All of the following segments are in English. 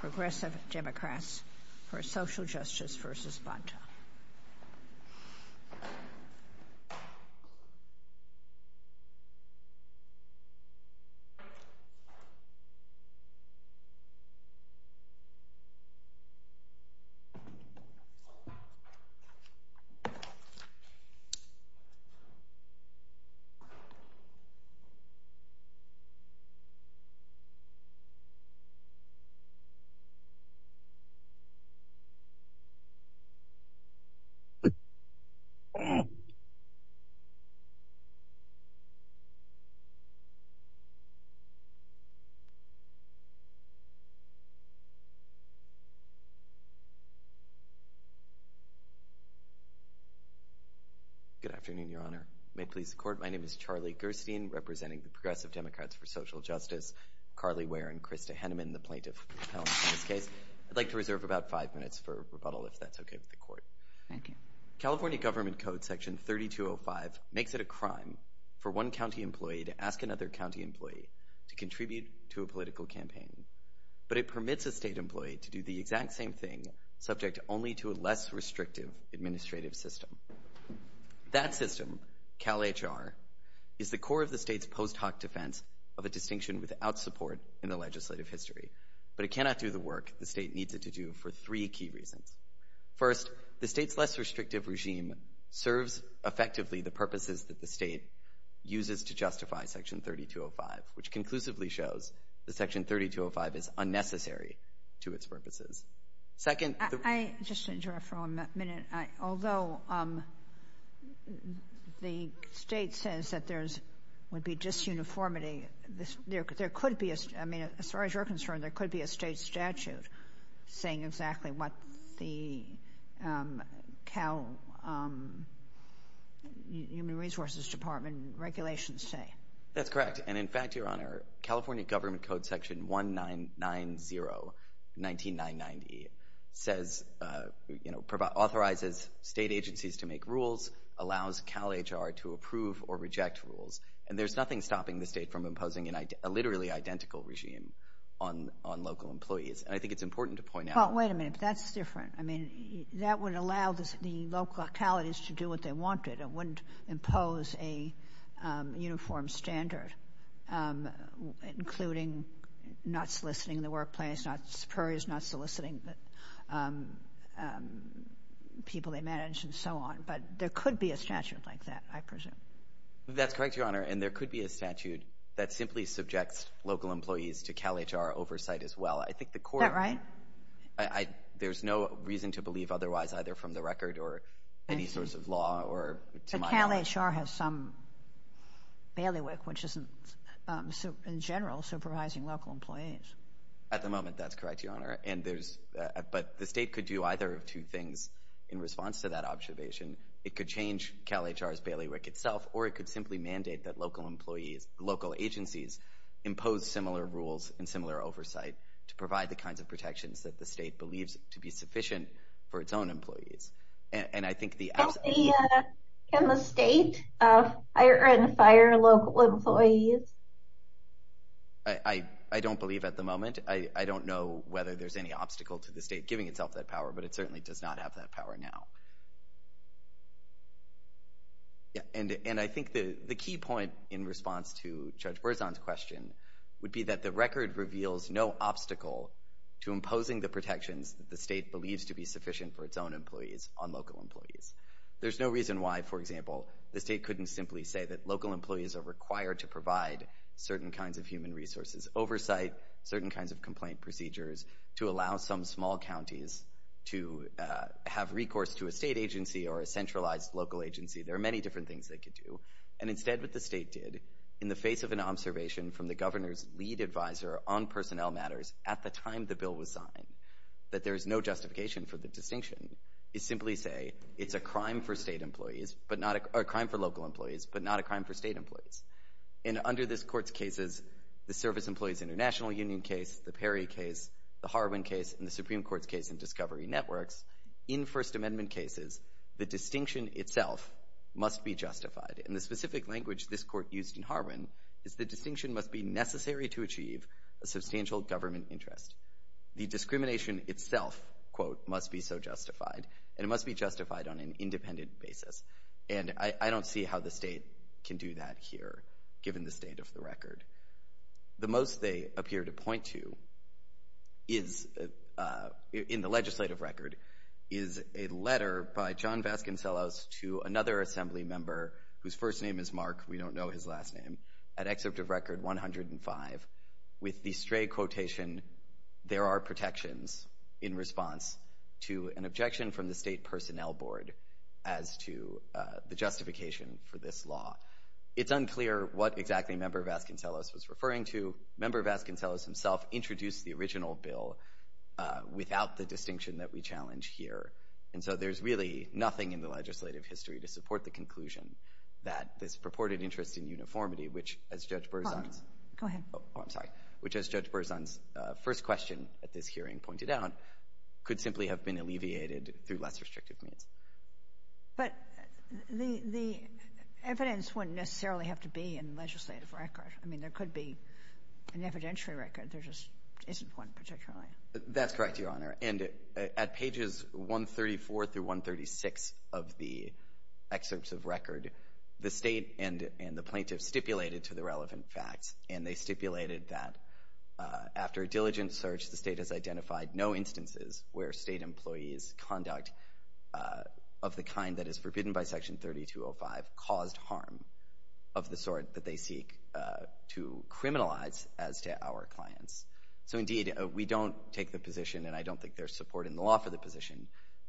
Progressive Democrats for Social Justice v. Bonta. Good afternoon, Your Honor. May it please the Court, my name is Charlie Gerstein, representing the Progressive Democrats for Social Justice, Carly Ware, and Krista Henneman, the plaintiff in this case. I'd like to reserve about five minutes for rebuttal, if that's okay with the Court. Thank you. California Government Code Section 3205 makes it a crime for one county employee to ask another county employee to contribute to a political campaign, but it permits a state employee to do the exact same thing, subject only to a less restrictive administrative system. That system, CalHR, is the core of the state's post hoc defense of a distinction without support in the legislative history, but it cannot do the work the state needs it to do for three key reasons. First, the state's less restrictive regime serves effectively the purposes that the state uses to justify Section 3205, which conclusively shows that Section 3205 is unnecessary to its purposes. Second—I just want to interrupt for one minute. Although the state says that there would be disuniformity, there could be, as far as you're concerned, there could be a state statute saying exactly what the Cal Human Resources Department regulations say. That's correct, and in fact, Your Honor, California Government Code Section 1990 says—authorizes state agencies to make rules, allows CalHR to approve or reject rules, and there's nothing stopping the state from imposing a literally identical regime on local employees, and I think it's important to point out— But wait a minute. That's different. I mean, that would allow the local localities to do what they wanted. It wouldn't impose a uniform standard, including not soliciting the workplace, not soliciting the people they manage, and so on, but there could be a statute like that, I presume. That's correct, Your Honor, and there could be a statute that simply subjects local employees to CalHR oversight as well. I think the court— Is that right? There's no reason to believe otherwise, either from the record or any source of law or— But CalHR has some bailiwick, which isn't, in general, supervising local employees. At the moment, that's correct, Your Honor, and there's—but the state could do either of two things in response to that observation. It could change CalHR's bailiwick itself, or it could simply mandate that local employees, local agencies, impose similar rules and similar oversight to provide the kinds of protections that the state believes to be sufficient for its own employees, and I think the— Can the state hire and fire local employees? I don't believe at the moment. I don't know whether there's any obstacle to the state giving itself that power, but it certainly does not have that power now, and I think the key point in response to Judge Berzon's question would be that the record reveals no obstacle to imposing the protections that the state believes to be sufficient for its own employees on local employees. There's no reason why, for example, the state couldn't simply say that local employees are required to provide certain kinds of human resources, oversight, certain kinds of complaint procedures to allow some small counties to have recourse to a state agency or a centralized local agency. There are many different things they could do, and instead what the state did, in the face of an observation from the governor's lead advisor on personnel matters at the time the bill was signed, that there is no justification for the distinction, is simply say it's a crime for state employees, but not—a crime for local employees, but not a crime for state employees, and under this Court's cases, the Service Employees International Union case, the Perry case, the Harwin case, and the Supreme Court's case in Discovery Networks, in First Amendment cases, the distinction itself must be justified, and the to achieve a substantial government interest. The discrimination itself, quote, must be so justified, and it must be justified on an independent basis, and I don't see how the state can do that here, given the state of the record. The most they appear to point to is—in the legislative record—is a letter by John Vasconcellos to another Assembly member whose first name is his last name, at Excerpt of Record 105, with the stray quotation, there are protections in response to an objection from the State Personnel Board as to the justification for this law. It's unclear what exactly Member Vasconcellos was referring to. Member Vasconcellos himself introduced the original bill without the distinction that we challenge here, and so there's really nothing in the legislative history to support the conclusion that this purported interest in uniformity, which, as Judge Berzon's first question at this hearing pointed out, could simply have been alleviated through less restrictive means. But the evidence wouldn't necessarily have to be in the legislative record. I mean, there could be an evidentiary record. There just isn't one particularly. That's correct, Your Honor, and at pages 134 through 136 of the Excerpts of Record, the state and the plaintiffs stipulated to the relevant facts, and they stipulated that after a diligent search, the state has identified no instances where state employees' conduct of the kind that is forbidden by Section 3205 caused harm of the sort that they seek to criminalize as to our clients. So, indeed, we don't take the position, and I don't think there's support in the law for the position,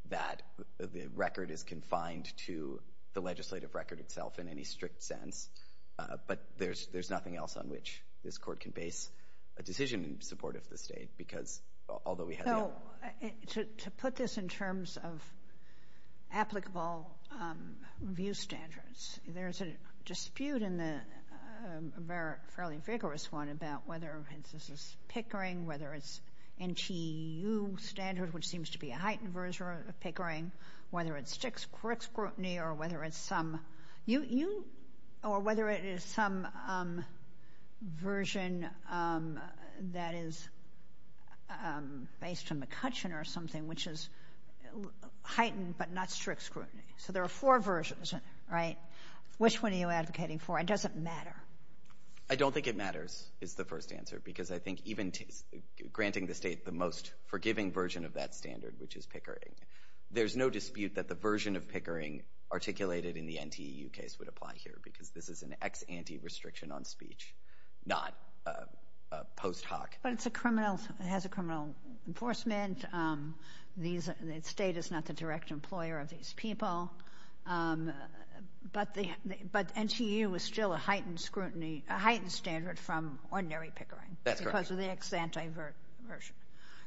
that the record is confined to the legislative record itself in any strict sense, but there's nothing else on which this Court can base a decision in support of the state, because although we have the... To put this in terms of applicable review standards, there's a dispute in the fairly vigorous one about whether this is pickering, whether it's NTU standard, which seems to be a heightened version of pickering, whether it's strict scrutiny, or whether it's some... that is based on McCutcheon or something, which is heightened but not strict scrutiny. So there are four versions, right? Which one are you advocating for? It doesn't matter. I don't think it matters, is the first answer, because I think even granting the state the most forgiving version of that standard, which is pickering, there's no dispute that the version of pickering articulated in the NTU case would apply here, because this is an anti-restriction on speech, not a post hoc. But it's a criminal, it has a criminal enforcement, the state is not the direct employer of these people, but NTU is still a heightened scrutiny, a heightened standard from ordinary pickering. That's correct. Because of the ex-ante version,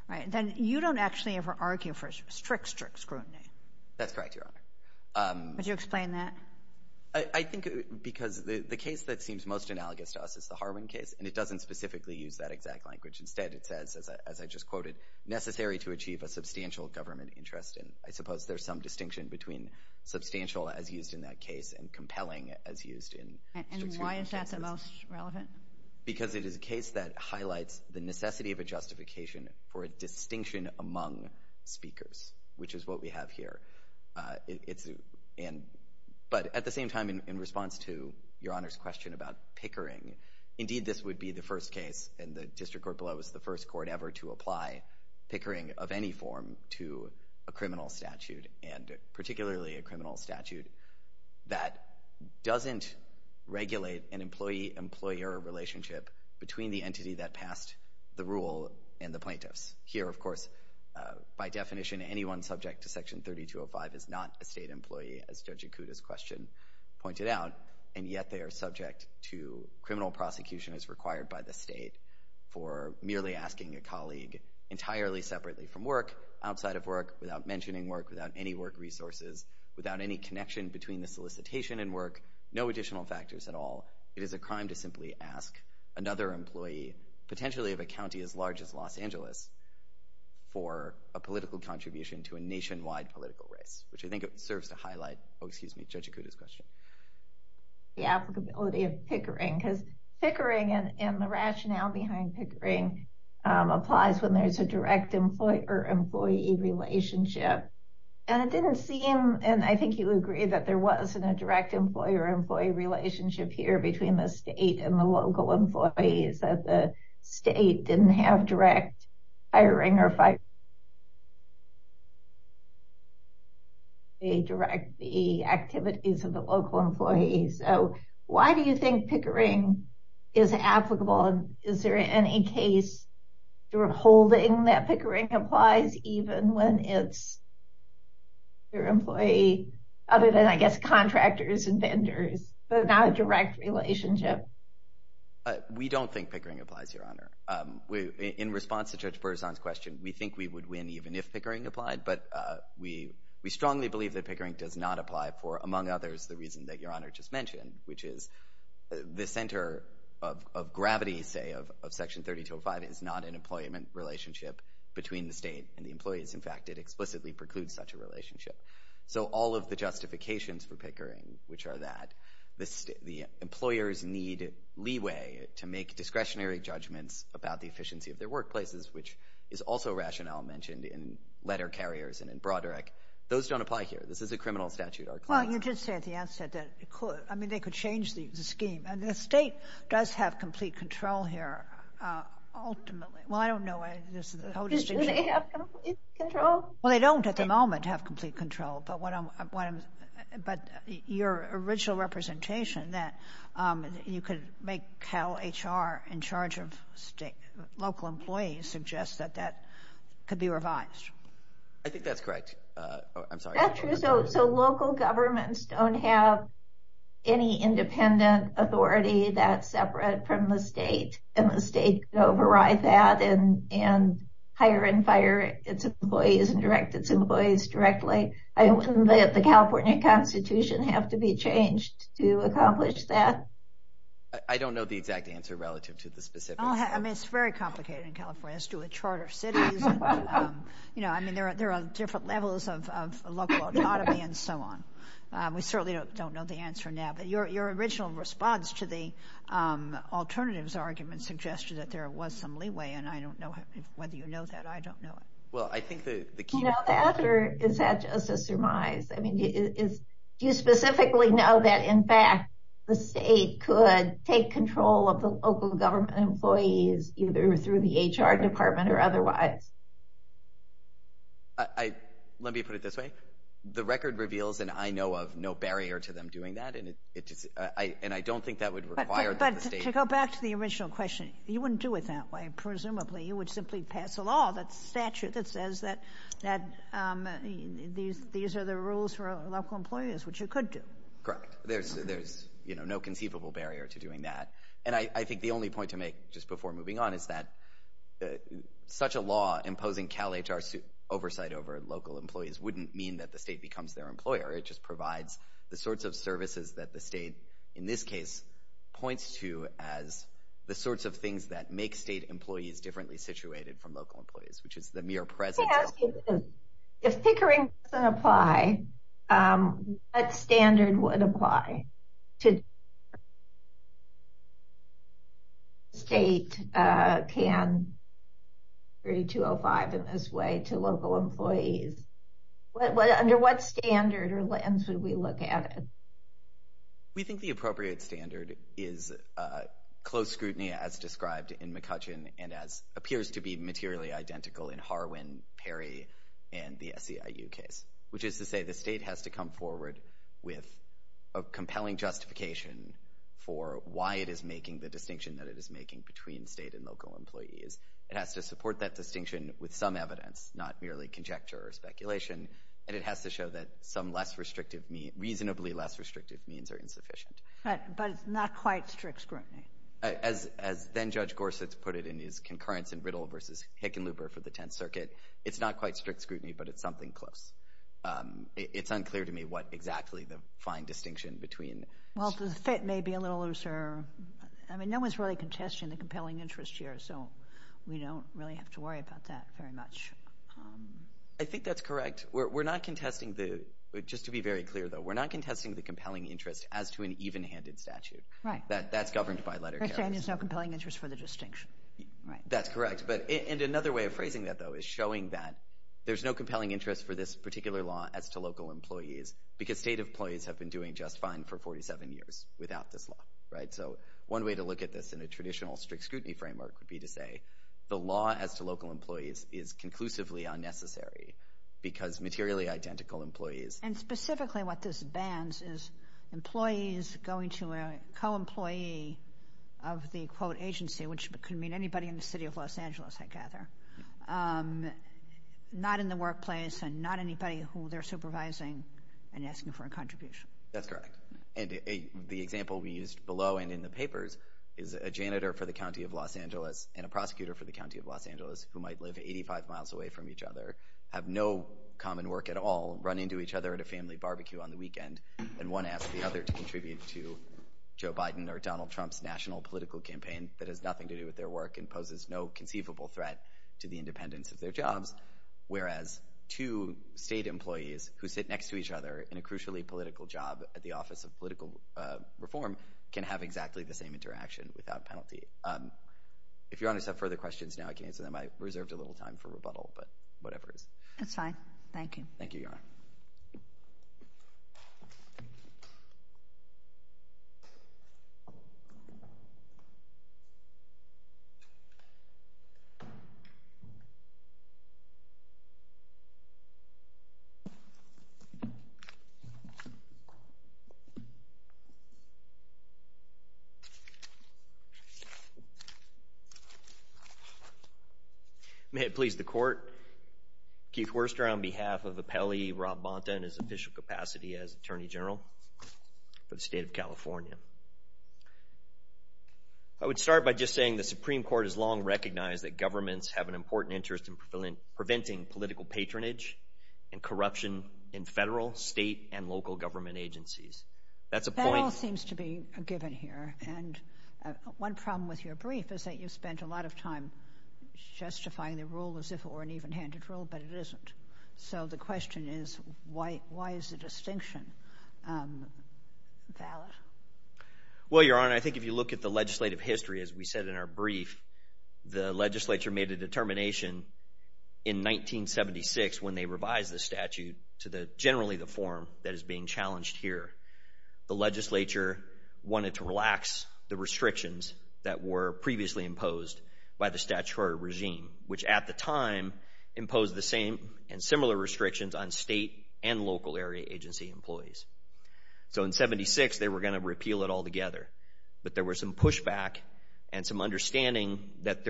right? Then you don't actually ever argue for strict, strict scrutiny. That's correct, Your Honor. Would you explain that? I think because the case that seems most analogous to us is the Harwin case, and it doesn't specifically use that exact language. Instead, it says, as I just quoted, necessary to achieve a substantial government interest. And I suppose there's some distinction between substantial as used in that case and compelling as used in... And why is that the most relevant? Because it is a case that highlights the necessity of a justification for a distinction among speakers, which is what we have here. But at the same time, in response to Your Honor's question about pickering, indeed, this would be the first case, and the district court below is the first court ever to apply pickering of any form to a criminal statute, and particularly a criminal statute that doesn't regulate an employee-employer relationship between the entity that passed the rule and the plaintiffs. Here, of course, by definition, anyone subject to Section 3205 is not a state employee, as Judge Ikuda's question pointed out, and yet they are subject to criminal prosecution as required by the state for merely asking a colleague entirely separately from work, outside of work, without mentioning work, without any work resources, without any connection between the solicitation and work, no additional factors at all. It is a crime to simply ask another employee, potentially of a county as large as Los Angeles, for a political contribution to a nationwide political race, which I think serves to highlight, oh, excuse me, Judge Ikuda's question. The applicability of pickering, because pickering and the rationale behind pickering applies when there's a direct employee-employee relationship. And it didn't seem, and I think you agree, that there wasn't a direct employee-employee relationship here between the state and the local employees, that the state didn't have direct hiring or fire. They direct the activities of the local employees, so why do you think pickering is applicable, and is there any case for holding that pickering applies even when it's your employee, other than, I guess, contractors and vendors, but not a direct relationship? We don't think pickering applies, Your Honor. In response to Judge Berzon's question, we think we would win even if pickering applied, but we strongly believe that pickering does not apply for, among others, the reason that Your Honor just mentioned, which is the center of gravity, say, of Section 30205 is not an employment relationship between the state and the employees. In fact, it explicitly precludes such a relationship. So all of the justifications for pickering, which are that the employers need leeway to make discretionary judgments about the efficiency of their workplaces, which is also rationale mentioned in letter carriers and in Broderick, those don't apply here. This is a criminal statute, Our Claims Act. Well, you did say at the outset that it could. I mean, they could change the scheme, and the state does have complete control here, ultimately. Well, I don't know. Does it have complete control? Well, they don't at the moment have complete control, but your original representation that you could make CalHR in charge of local employees suggests that that could be revised. I think that's correct. I'm sorry. So local governments don't have any independent authority that's separate from the state, and the state could override that and hire and fire its employees and direct its employees directly. Wouldn't the California Constitution have to be changed to accomplish that? I don't know the exact answer relative to the specifics. I mean, it's very complicated in California as to a chart of cities. You know, I mean, there are different levels of local autonomy and so on. We certainly don't know the answer now, but your original response to the alternatives argument suggested that there was some leeway, and I don't know whether you know that. I don't know it. Well, I think the key— You know that, or is that just a surmise? I mean, do you specifically know that, in fact, the state could take control of the local government employees either through the HR department or otherwise? Let me put it this way. The record reveals, and I know of, no barrier to them doing that, and I don't think that would require that the state— But to go back to the original question, you wouldn't do it that way, presumably. You would simply pass a law that's statute that says that these are the rules for local employees, which you could do. Correct. There's no conceivable barrier to doing that, and I think the only point to make just before moving on is that such a law imposing CalHR oversight over local employees wouldn't mean that the state becomes their employer. It just provides the sorts of services that the state, in this case, points to as the sorts of things that make state employees differently situated from local employees, which is the mere presence— If pickering doesn't apply, what standard would apply to— state can 3205 in this way to local employees? Under what standard or lens would we look at it? We think the appropriate standard is close scrutiny, as described in McCutcheon, and as appears to be materially identical in Harwin, Perry, and the SEIU case, which is to say the state has to come forward with a compelling justification for why it is making the distinction that it is making between state and local employees. It has to support that distinction with some evidence, not merely conjecture or speculation, and it has to show that some reasonably less restrictive means are insufficient. But not quite strict scrutiny. As then-Judge Gorsuch put it in his concurrence in Riddle v. Hickenlooper for the Tenth Circuit, it's not quite strict scrutiny, but it's something close. It's unclear to me what exactly the fine distinction between— Well, the fit may be a little looser. I mean, no one's really contesting the compelling interest here, so we don't really have to worry about that very much. I think that's correct. We're not contesting the—just to be very clear, though—we're not contesting the compelling interest as to an even-handed statute. Right. That's governed by letter carries. You're saying there's no compelling interest for the distinction, right? That's correct. And another way of phrasing that, though, is showing that there's no compelling interest for this particular law as to local employees, because state employees have been doing just fine for 47 years without this law, right? So one way to look at this in a traditional strict scrutiny framework would be to say the law as to local employees is conclusively unnecessary, because materially identical employees— Specifically, what this bans is employees going to a co-employee of the, quote, agency, which could mean anybody in the city of Los Angeles, I gather, not in the workplace and not anybody who they're supervising and asking for a contribution. That's correct. And the example we used below and in the papers is a janitor for the county of Los Angeles and a prosecutor for the county of Los Angeles who might live 85 miles away from each other, have no common work at all, run into each other at a family barbecue on the weekend, and one asks the other to contribute to Joe Biden or Donald Trump's national political campaign that has nothing to do with their work and poses no conceivable threat to the independence of their jobs, whereas two state employees who sit next to each other in a crucially political job at the Office of Political Reform can have exactly the same interaction without penalty. If your honors have further questions, now I can answer them. I reserved a little time for rebuttal, but whatever it is. That's fine. Thank you. Thank you, Your Honor. Thank you, Your Honor. I would start by just saying the Supreme Court has long recognized that governments have an important interest in preventing political patronage and corruption in federal, state, and local government agencies. That all seems to be a given here, and one problem with your brief is that you spent a lot of time justifying the rule as if it were an even-handed rule, but it isn't. So the question is, why is the distinction valid? Well, Your Honor, I think if you look at the legislative history, as we said in our brief, the legislature made a determination in 1976 when they revised the statute to generally the form that is being challenged here. The legislature wanted to relax the restrictions that were previously imposed by the statutory regime, which at the time imposed the same and similar restrictions on state and local area agency employees. So in 76, they were going to repeal it altogether, but there was some pushback and some understanding that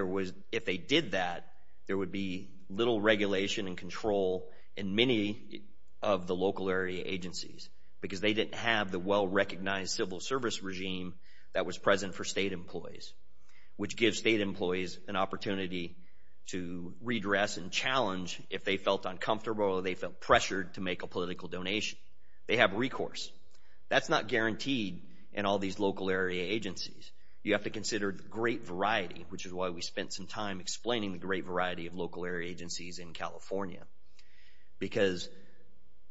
if they did that, there would be little regulation and control in many of the local area agencies because they didn't have the well-recognized civil service regime that was present for state employees, which gives state employees an opportunity to redress and challenge if they felt uncomfortable or they felt pressured to make a political donation. They have recourse. That's not guaranteed in all these local area agencies. You have to consider great variety, which is why we spent some time explaining the great variety of local area agencies in California, because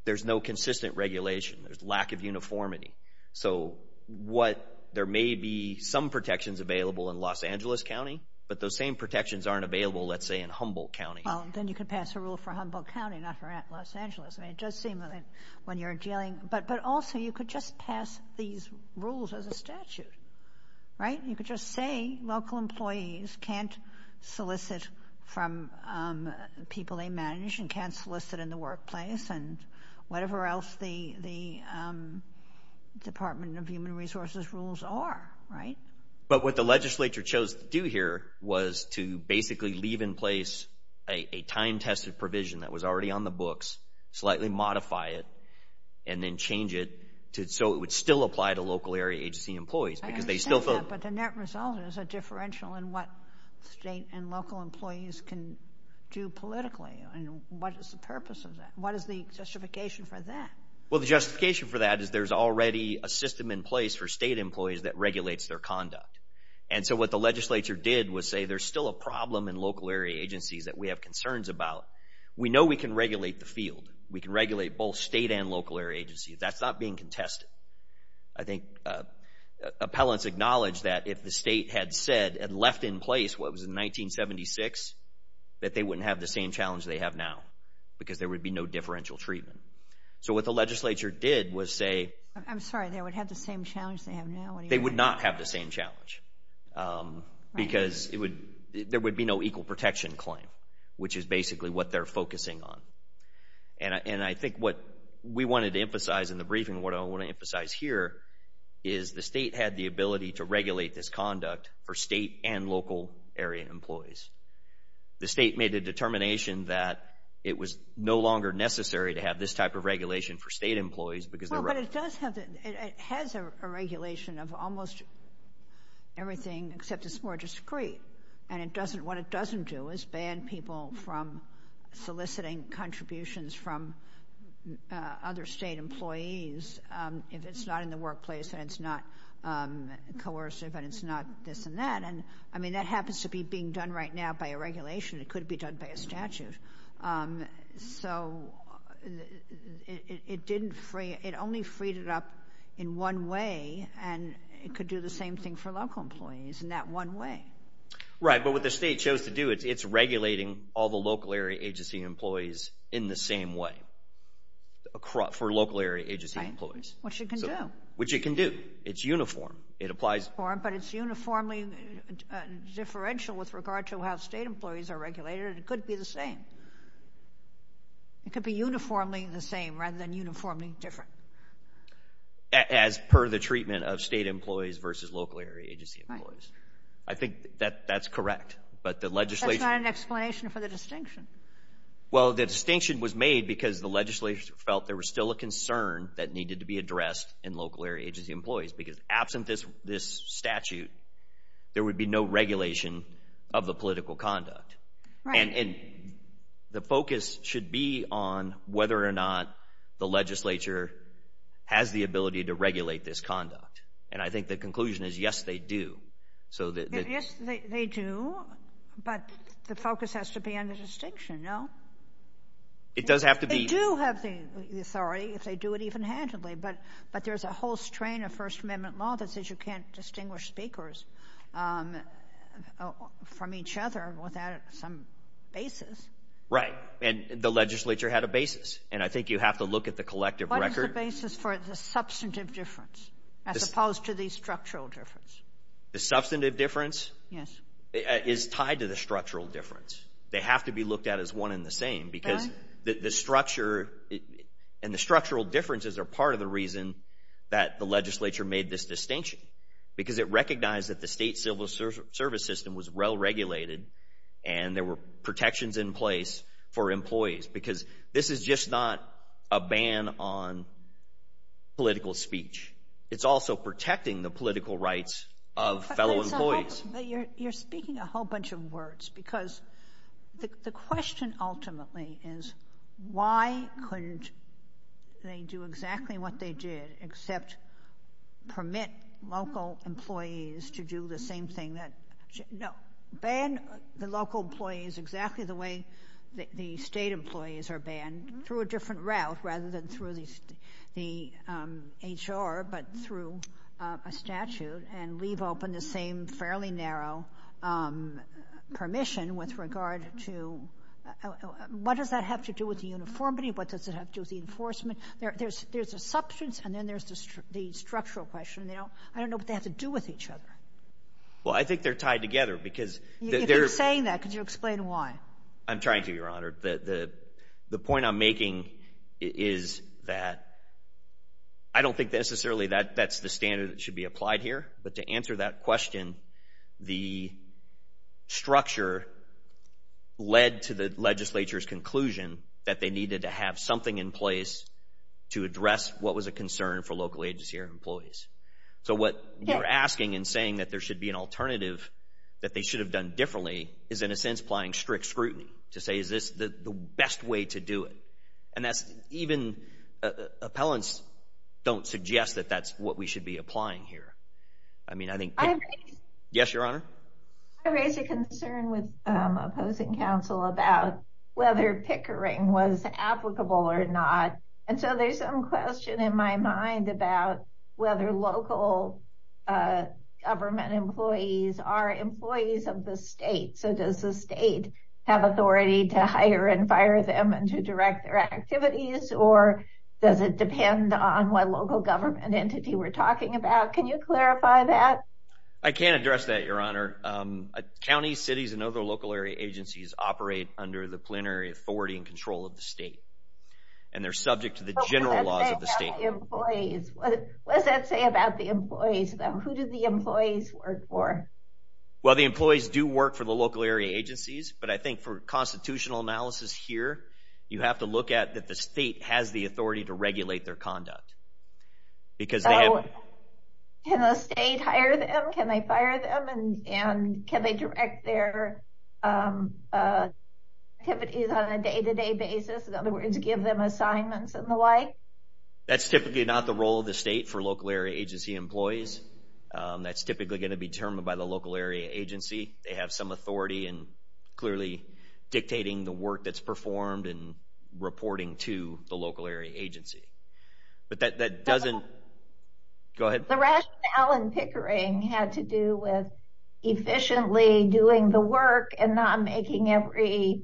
there's no consistent regulation. There's lack of uniformity. So there may be some protections available in Los Angeles County, but those same protections aren't available, let's say, in Humboldt County. Well, then you could pass a rule for Humboldt County, not for Los Angeles. I mean, it does seem that when you're dealing, but also you could just pass these rules as a statute, right? You could just say local employees can't solicit from people they manage and can't solicit in the workplace and whatever else the Department of Human Resources rules are, right? But what the legislature chose to do here was to basically leave in place a time-tested provision that was already on the books, slightly modify it, and then change it so it would still apply to local area agency employees, because they still felt— I understand that, but the net result is a differential in what state and local employees can do politically, and what is the purpose of that? What is the justification for that? Well, the justification for that is there's already a system in place for state employees that regulates their conduct. And so what the legislature did was say there's still a problem in local area agencies that we have concerns about. We know we can regulate the field. We can regulate both state and local area agencies. That's not being contested. I think appellants acknowledged that if the state had said and left in place what was in 1976, that they wouldn't have the same challenge they have now, because there would be no differential treatment. So what the legislature did was say— I'm sorry, they would have the same challenge they have now? They would not have the same challenge, because there would be no equal protection claim, which is basically what they're focusing on. And I think what we wanted to emphasize in the briefing, what I want to emphasize here, is the state had the ability to regulate this conduct for state and local area employees. The state made a determination that it was no longer necessary to have this type of regulation for state employees, because they're— Well, but it does have—it has a regulation of almost everything, except it's more discreet. And it doesn't—what it doesn't do is ban people from soliciting contributions from other state employees if it's not in the workplace and it's not coercive and it's not this and that. And, I mean, that happens to be being done right now by a regulation. It could be done by a statute. So it didn't free—it only freed it up in one way, and it could do the same thing for local employees in that one way. Right, but what the state chose to do, it's regulating all the local area agency employees in the same way, for local area agency employees. Which it can do. Which it can do. It's uniform. It applies— Uniform, but it's uniformly differential with regard to how state employees are regulated, and it could be the same. It could be uniformly the same rather than uniformly different. As per the treatment of state employees versus local area agency employees. I think that's correct, but the legislation— That's not an explanation for the distinction. Well, the distinction was made because the legislature felt there was still a concern that needed to be addressed in local area agency employees, because absent this statute, there would be no regulation of the political conduct. Right. And the focus should be on whether or not the legislature has the ability to regulate this conduct. And I think the conclusion is, yes, they do. So the— Yes, they do, but the focus has to be on the distinction, no? It does have to be— They do have the authority, if they do it even handily, but there's a whole strain of First Amendment law that says you can't distinguish speakers from each other without some basis. Right, and the legislature had a basis, and I think you have to look at the collective record— What is the basis for the substantive difference, as opposed to the structural difference? The substantive difference is tied to the structural difference. They have to be looked at as one and the same, because the structure and the structural differences are part of the reason that the legislature made this distinction, because it recognized that the state civil service system was well-regulated, and there were protections in place for employees. Because this is just not a ban on political speech. It's also protecting the political rights of fellow employees. You're speaking a whole bunch of words, because the question ultimately is, why couldn't they do exactly what they did, except permit local employees to do the same thing that—No, ban the local employees exactly the way the state employees are banned, through a different route rather than through the HR, but through a statute, and leave open the same fairly narrow permission with regard to—What does that have to do with the uniformity? What does it have to do with the enforcement? There's a substance, and then there's the structural question. I don't know what they have to do with each other. Well, I think they're tied together, because— If you're saying that, could you explain why? I'm trying to, Your Honor. The point I'm making is that I don't think necessarily that's the standard that should be applied here, but to answer that question, the structure led to the legislature's conclusion that they needed to have something in place to address what was a concern for local agency or employees. So what you're asking and saying that there should be an alternative that they should have done differently is, in a sense, applying strict scrutiny to say, is this the best way to do it? And that's even—Appellants don't suggest that that's what we should be applying here. I mean, I think—Yes, Your Honor? I raise a concern with opposing counsel about whether pickering was applicable or not. And so there's some question in my mind about whether local government employees are employees of the state. So does the state have authority to hire and fire them and to direct their activities, or does it depend on what local government entity we're talking about? Can you clarify that? I can't address that, Your Honor. Counties, cities, and other local area agencies operate under the plenary authority and control of the state. And they're subject to the general laws of the state. What does that say about the employees, though? Who do the employees work for? Well, the employees do work for the local area agencies, but I think for constitutional analysis here, you have to look at that the state has the authority to regulate their conduct because they have— Can the state hire them? Can they fire them? And can they direct their activities on a day-to-day basis? In other words, give them assignments and the like? That's typically not the role of the state for local area agency employees. That's typically going to be determined by the local area agency. They have some authority in clearly dictating the work that's performed and reporting to the local area agency. But that doesn't—Go ahead. The rationale in Pickering had to do with efficiently doing the work and not making every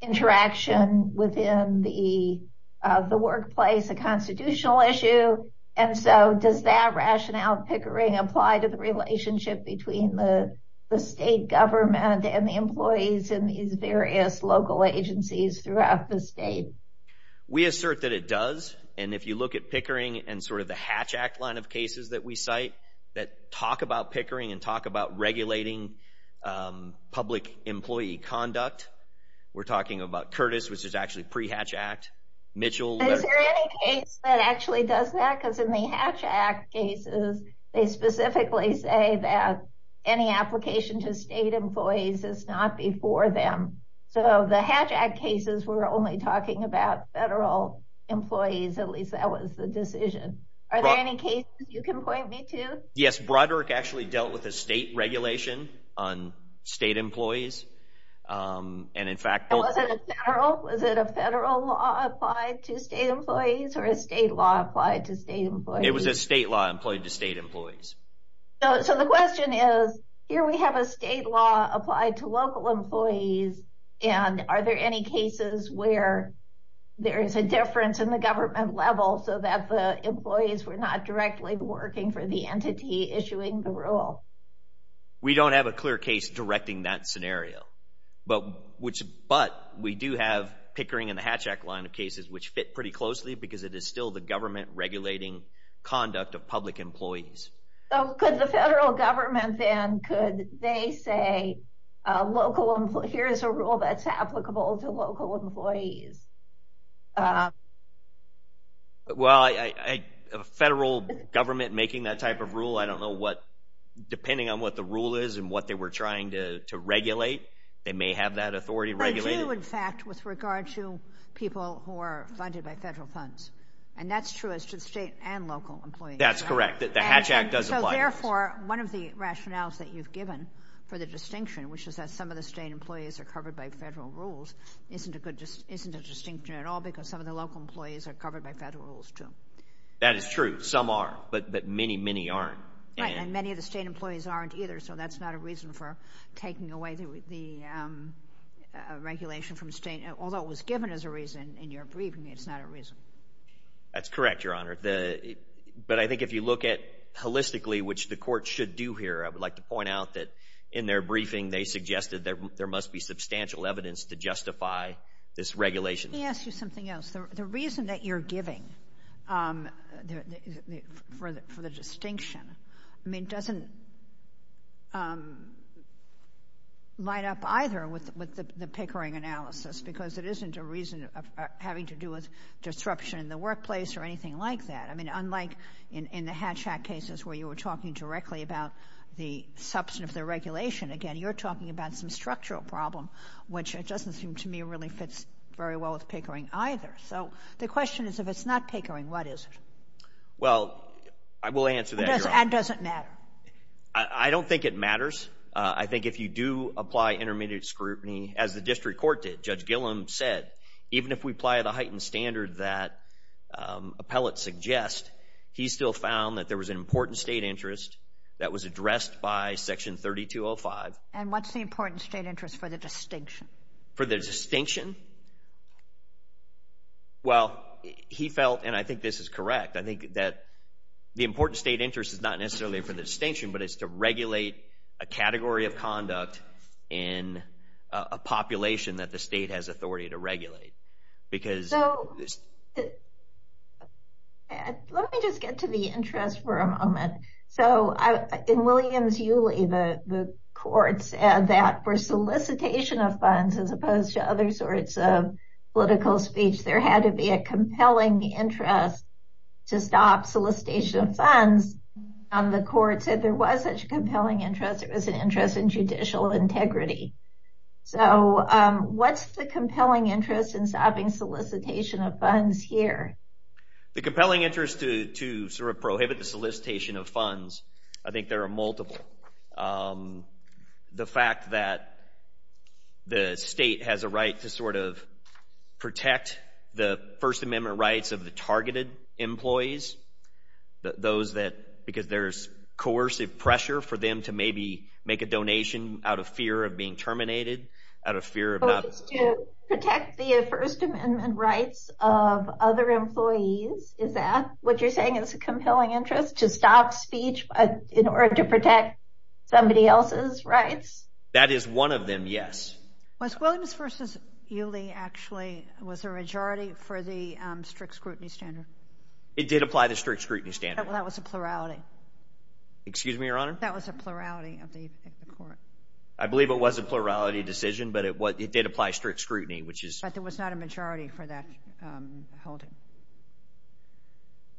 interaction within the workplace a constitutional issue. And so, does that rationale in Pickering apply to the relationship between the state government and the employees in these various local agencies throughout the state? We assert that it does. And if you look at Pickering and sort of the Hatch Act line of cases that we cite that talk about Pickering and talk about regulating public employee conduct, we're talking about Curtis, which is actually pre-Hatch Act, Mitchell— Is there any case that actually does that? Because in the Hatch Act cases, they specifically say that any application to state employees is not before them. So, the Hatch Act cases were only talking about federal employees, at least that was the decision. Are there any cases you can point me to? Yes, Broderick actually dealt with a state regulation on state employees. And in fact— And was it a federal? Was it a federal law applied to state employees or a state law applied to state employees? It was a state law employed to state employees. So, the question is, here we have a state law applied to local employees, and are there any cases where there is a difference in the government level so that the employees were not directly working for the entity issuing the rule? We don't have a clear case directing that scenario, but we do have Pickering and the Hatch Act line of cases which fit pretty closely because it is still the government regulating conduct of public employees. Could the federal government then, could they say, here's a rule that's applicable to local employees? Well, a federal government making that type of rule, I don't know what, depending on what the rule is and what they were trying to regulate, they may have that authority regulated. They do, in fact, with regard to people who are funded by federal funds. And that's true as to the state and local employees. That's correct. The Hatch Act does apply to those. So, therefore, one of the rationales that you've given for the distinction, which is that some of the state employees are covered by federal rules, isn't a distinction at all because some of the local employees are covered by federal rules too. That is true. Some are, but many, many aren't. Right, and many of the state employees aren't either, so that's not a reason for taking away the regulation from state, although it was given as a reason in your briefing, it's not a reason. That's correct, Your Honor. But I think if you look at holistically, which the court should do here, I would like to point out that in their briefing, they suggested that there must be substantial evidence to justify this regulation. Let me ask you something else. The reason that you're giving for the distinction, I mean, doesn't light up either with the Pickering analysis because it isn't a reason having to do with disruption in the workplace or anything like that. I mean, unlike in the Hatch Act cases where you were talking directly about the substance of the regulation, again, you're talking about some structural problem, which it doesn't seem to me really fits very well with Pickering either. So the question is, if it's not Pickering, what is it? Well, I will answer that, Your Honor. And does it matter? I don't think it matters. I think if you do apply intermediate scrutiny, as the district court did, Judge Gillum said, even if we apply the heightened standard that appellate suggests, he still found that there was an important state interest that was addressed by Section 3205. And what's the important state interest for the distinction? For the distinction? Well, he felt, and I think this is correct, I think that the important state interest is not necessarily for the distinction, but it's to regulate a category of conduct in a population that the state has authority to regulate. Let me just get to the interest for a moment. So in Williams-Uley, the courts said that for solicitation of funds, as opposed to other sorts of political speech, there had to be a compelling interest to stop solicitation of funds. The court said there was such a compelling interest. It was an interest in judicial integrity. So what's the compelling interest in stopping solicitation of funds here? The compelling interest to sort of prohibit the solicitation of funds, I think there are multiple. The fact that the state has a right to sort of protect the First Amendment rights of the targeted employees, those that, because there's coercive pressure for them to maybe make a out of fear of not... So it's to protect the First Amendment rights of other employees, is that what you're saying is a compelling interest, to stop speech in order to protect somebody else's rights? That is one of them, yes. Was Williams versus Uley actually, was the majority for the strict scrutiny standard? It did apply the strict scrutiny standard. That was a plurality. Excuse me, Your Honor? That was a plurality of the court. I believe it was a plurality decision, but it did apply strict scrutiny, which is... But there was not a majority for that holding.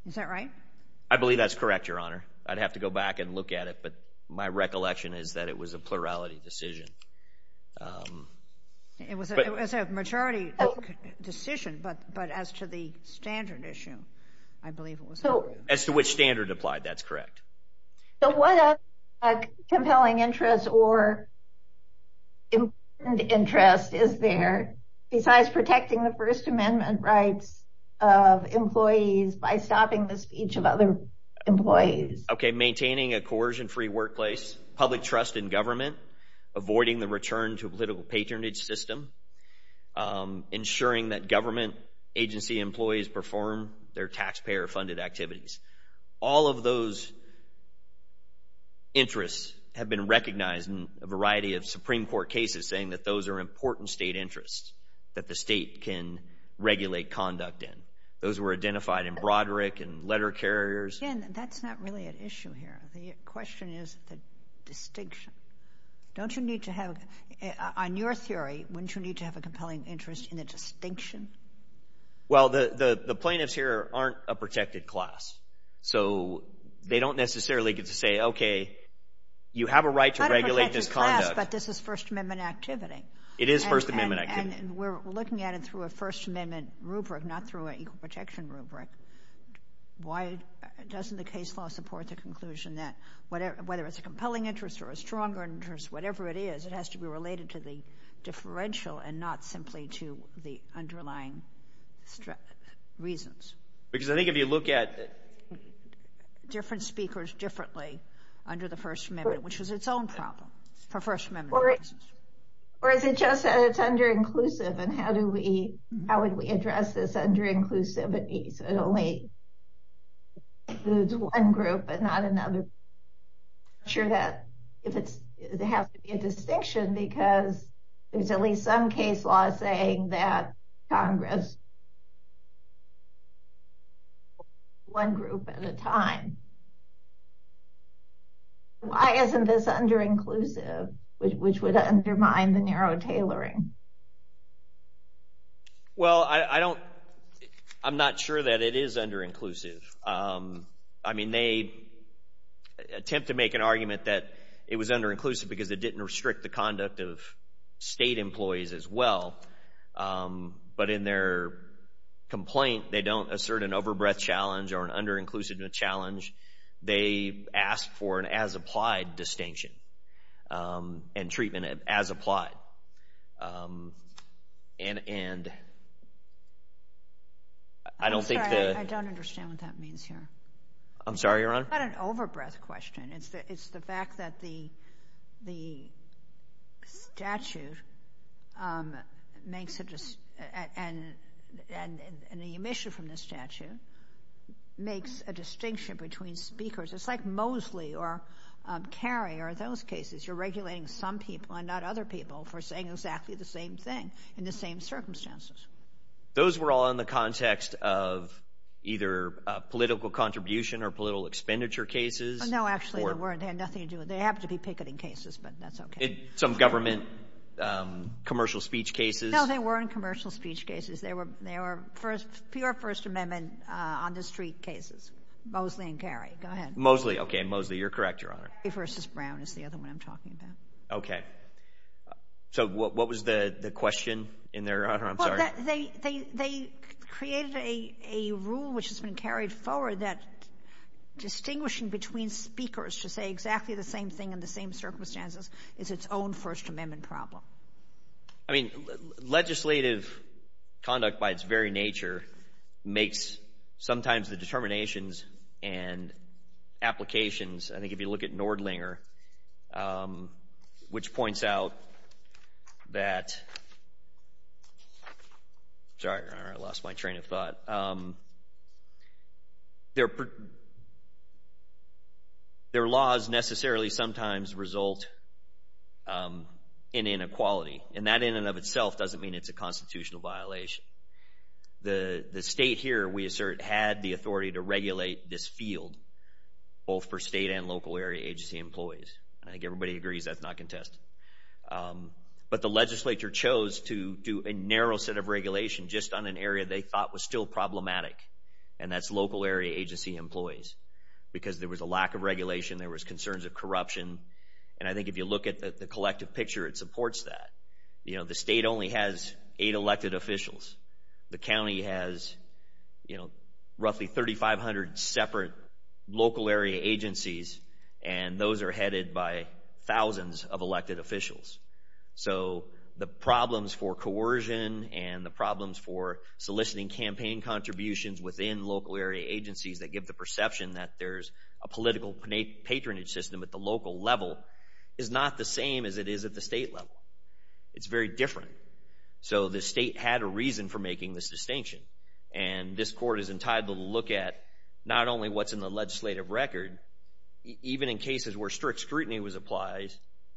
Is that right? I believe that's correct, Your Honor. I'd have to go back and look at it, but my recollection is that it was a plurality decision. It was a majority decision, but as to the standard issue, I believe it was... As to which standard applied, that's correct. So what other compelling interest or important interest is there besides protecting the First Amendment rights of employees by stopping the speech of other employees? Okay, maintaining a coercion-free workplace, public trust in government, avoiding the return to political patronage system, ensuring that government agency employees perform their taxpayer-funded activities. All of those interests have been recognized in a variety of Supreme Court cases saying that those are important state interests that the state can regulate conduct in. Those were identified in Broderick and letter carriers. Again, that's not really an issue here. The question is the distinction. Don't you need to have... On your theory, wouldn't you need to have a compelling interest in the distinction? Well, the plaintiffs here aren't a protected class, so they don't necessarily get to say, okay, you have a right to regulate this conduct. But this is First Amendment activity. It is First Amendment activity. We're looking at it through a First Amendment rubric, not through an equal protection rubric. Why doesn't the case law support the conclusion that whether it's a compelling interest or a stronger interest, whatever it is, it has to be related to the differential and not to the underlying reasons? Because I think if you look at... Different speakers differently under the First Amendment, which was its own problem. Or is it just that it's under-inclusive? And how would we address this under-inclusivity so it only includes one group and not another? I'm not sure that it has to be a distinction because there's at least some case law saying that Congress... One group at a time. Why isn't this under-inclusive, which would undermine the narrow tailoring? Well, I don't... I'm not sure that it is under-inclusive. I mean, they attempt to make an argument that it was under-inclusive because it didn't restrict the conduct of state employees as well. But in their complaint, they don't assert an over-breath challenge or an under-inclusive challenge. They ask for an as-applied distinction and treatment as applied. And I don't think... I'm sorry, I don't understand what that means here. I'm sorry, Your Honor? It's not an over-breath question. It's the fact that the statute makes a... And the omission from the statute makes a distinction between speakers. It's like Mosley or Kerry or those cases. You're regulating some people and not other people for saying exactly the same thing in the same circumstances. Those were all in the context of either political contribution or political expenditure cases. No, actually, they weren't. They had nothing to do with... They happened to be picketing cases, but that's okay. Some government commercial speech cases. No, they weren't commercial speech cases. They were pure First Amendment on the street cases. Mosley and Kerry. Go ahead. Mosley. Okay, Mosley. You're correct, Your Honor. Kerry versus Brown is the other one I'm talking about. Okay. So what was the question in there, Your Honor? I'm sorry. They created a rule which has been carried forward that distinguishing between speakers to say exactly the same thing in the same circumstances is its own First Amendment problem. I mean, legislative conduct by its very nature makes sometimes the determinations and Sorry, Your Honor. I lost my train of thought. Their laws necessarily sometimes result in inequality, and that in and of itself doesn't mean it's a constitutional violation. The state here, we assert, had the authority to regulate this field, both for state and local area agency employees. I think everybody agrees that's not contested. But the legislature chose to do a narrow set of regulation just on an area they thought was still problematic, and that's local area agency employees because there was a lack of regulation. There was concerns of corruption, and I think if you look at the collective picture, it supports that. The state only has eight elected officials. The county has roughly 3,500 separate local area agencies, and those are headed by thousands of elected officials. So the problems for coercion and the problems for soliciting campaign contributions within local area agencies that give the perception that there's a political patronage system at the local level is not the same as it is at the state level. It's very different. So the state had a reason for making this distinction, and this court is entitled to look at not only what's in the legislative record, even in cases where strict scrutiny was applied,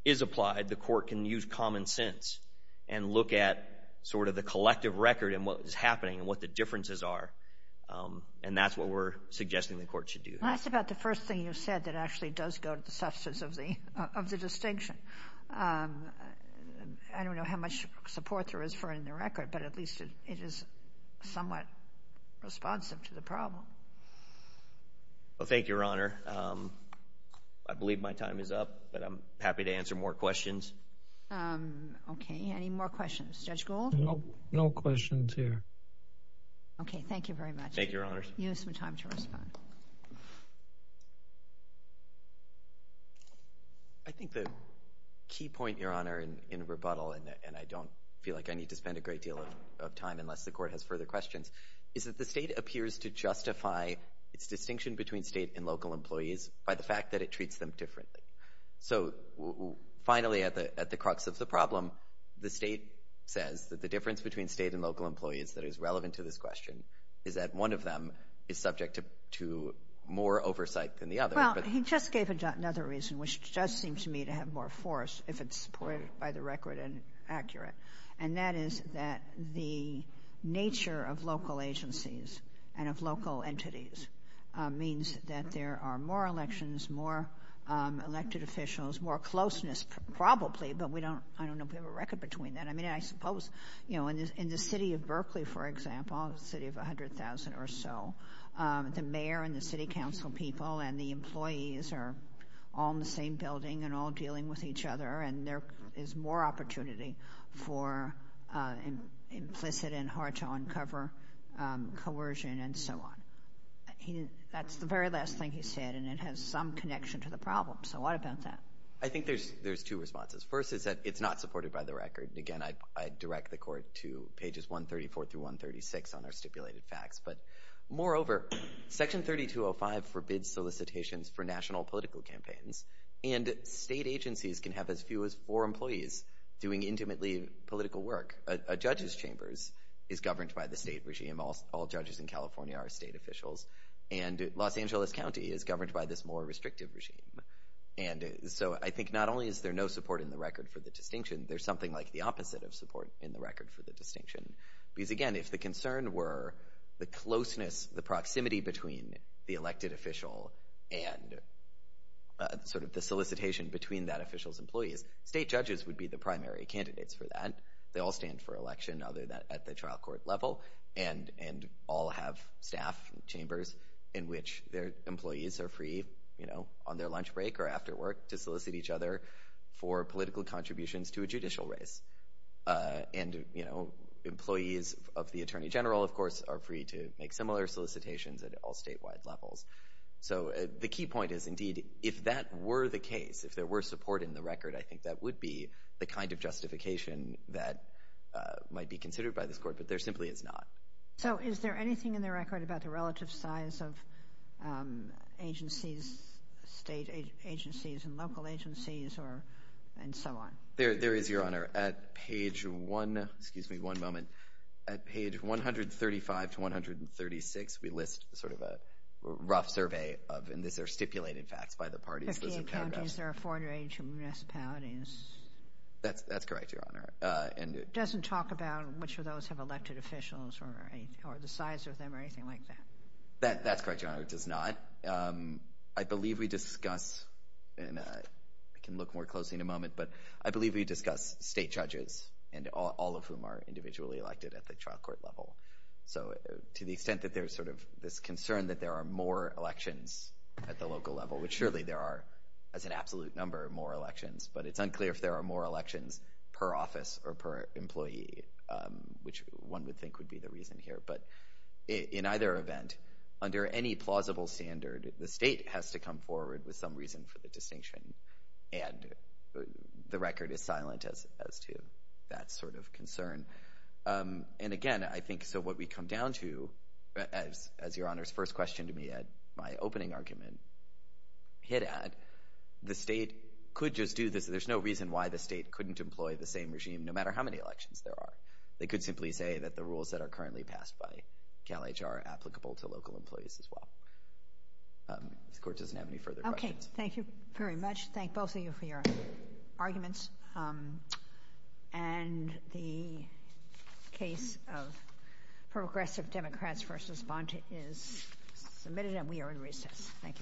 is applied, the court can use common sense and look at sort of the collective record and what is happening and what the differences are, and that's what we're suggesting the court should do. Well, that's about the first thing you said that actually does go to the substance of the distinction. I don't know how much support there is for it in the record, but at least it is somewhat responsive to the problem. Well, thank you, Your Honor. I believe my time is up, but I'm happy to answer more questions. Okay. Any more questions? Judge Gold? No questions here. Okay. Thank you very much. Thank you, Your Honors. You have some time to respond. I think the key point, Your Honor, in rebuttal, and I don't feel like I need to spend a great deal of time unless the court has further questions, is that the state appears to justify its distinction between state and local employees by the fact that it treats them differently. So finally, at the crux of the problem, the state says that the difference between state and local employees that is relevant to this question is that one of them is subject to more oversight than the other. Well, he just gave another reason, which does seem to me to have more force, if it's supported by the record and accurate, and that is that the nature of local agencies and of local entities means that there are more elections, more elected officials, more closeness probably, but I don't know if we have a record between that. I mean, I suppose in the city of Berkeley, for example, a city of 100,000 or so, the mayor and the city council people and the employees are all in the same building and all dealing with each other, and there is more opportunity for implicit and hard-to-uncover coercion and so on. That's the very last thing he said, and it has some connection to the problem. So what about that? I think there's two responses. First is that it's not supported by the record. Again, I direct the court to pages 134 through 136 on our stipulated facts. But moreover, Section 3205 forbids solicitations for national political campaigns, and state agencies can have as few as four employees doing intimately political work. A judge's chambers is governed by the state regime. All judges in California are state officials, and Los Angeles County is governed by this more restrictive regime. And so I think not only is there no support in the record for the distinction, there's something like the opposite of support in the record for the distinction. Because again, if the concern were the closeness, the proximity between the elected official and sort of the solicitation between that official's employees, state judges would be the primary candidates for that. They all stand for election, other than at the trial court level, and all have staff chambers in which their employees are free on their lunch break or after work to solicit each other for political contributions to a judicial race. And employees of the Attorney General, of course, are free to make similar solicitations at all statewide levels. So the key point is, indeed, if that were the case, if there were support in the record, I think that would be the kind of justification that might be considered by this Court. But there simply is not. So is there anything in the record about the relative size of agencies, state agencies and local agencies, and so on? There is, Your Honor. At page one—excuse me one moment—at page 135 to 136, we list sort of a rough survey of—and these are stipulated facts by the parties. In 58 counties, there are 482 municipalities. That's correct, Your Honor. Doesn't talk about which of those have elected officials or the size of them or anything like that. That's correct, Your Honor. It does not. I believe we discuss—and we can look more closely in a moment—but I believe we discuss state judges, all of whom are individually elected at the trial court level. So to the extent that there's sort of this concern that there are more elections at the as an absolute number of more elections, but it's unclear if there are more elections per office or per employee, which one would think would be the reason here. But in either event, under any plausible standard, the state has to come forward with some reason for the distinction, and the record is silent as to that sort of concern. And again, I think so what we come down to, as Your Honor's first question to me at my opening argument hit at, the state could just do this. There's no reason why the state couldn't employ the same regime, no matter how many elections there are. They could simply say that the rules that are currently passed by CalHR are applicable to local employees as well. This Court doesn't have any further questions. Okay. Thank you very much. Thank both of you for your arguments. And the case of Progressive Democrats v. Bonta is submitted, and we are in recess. Thank you very much.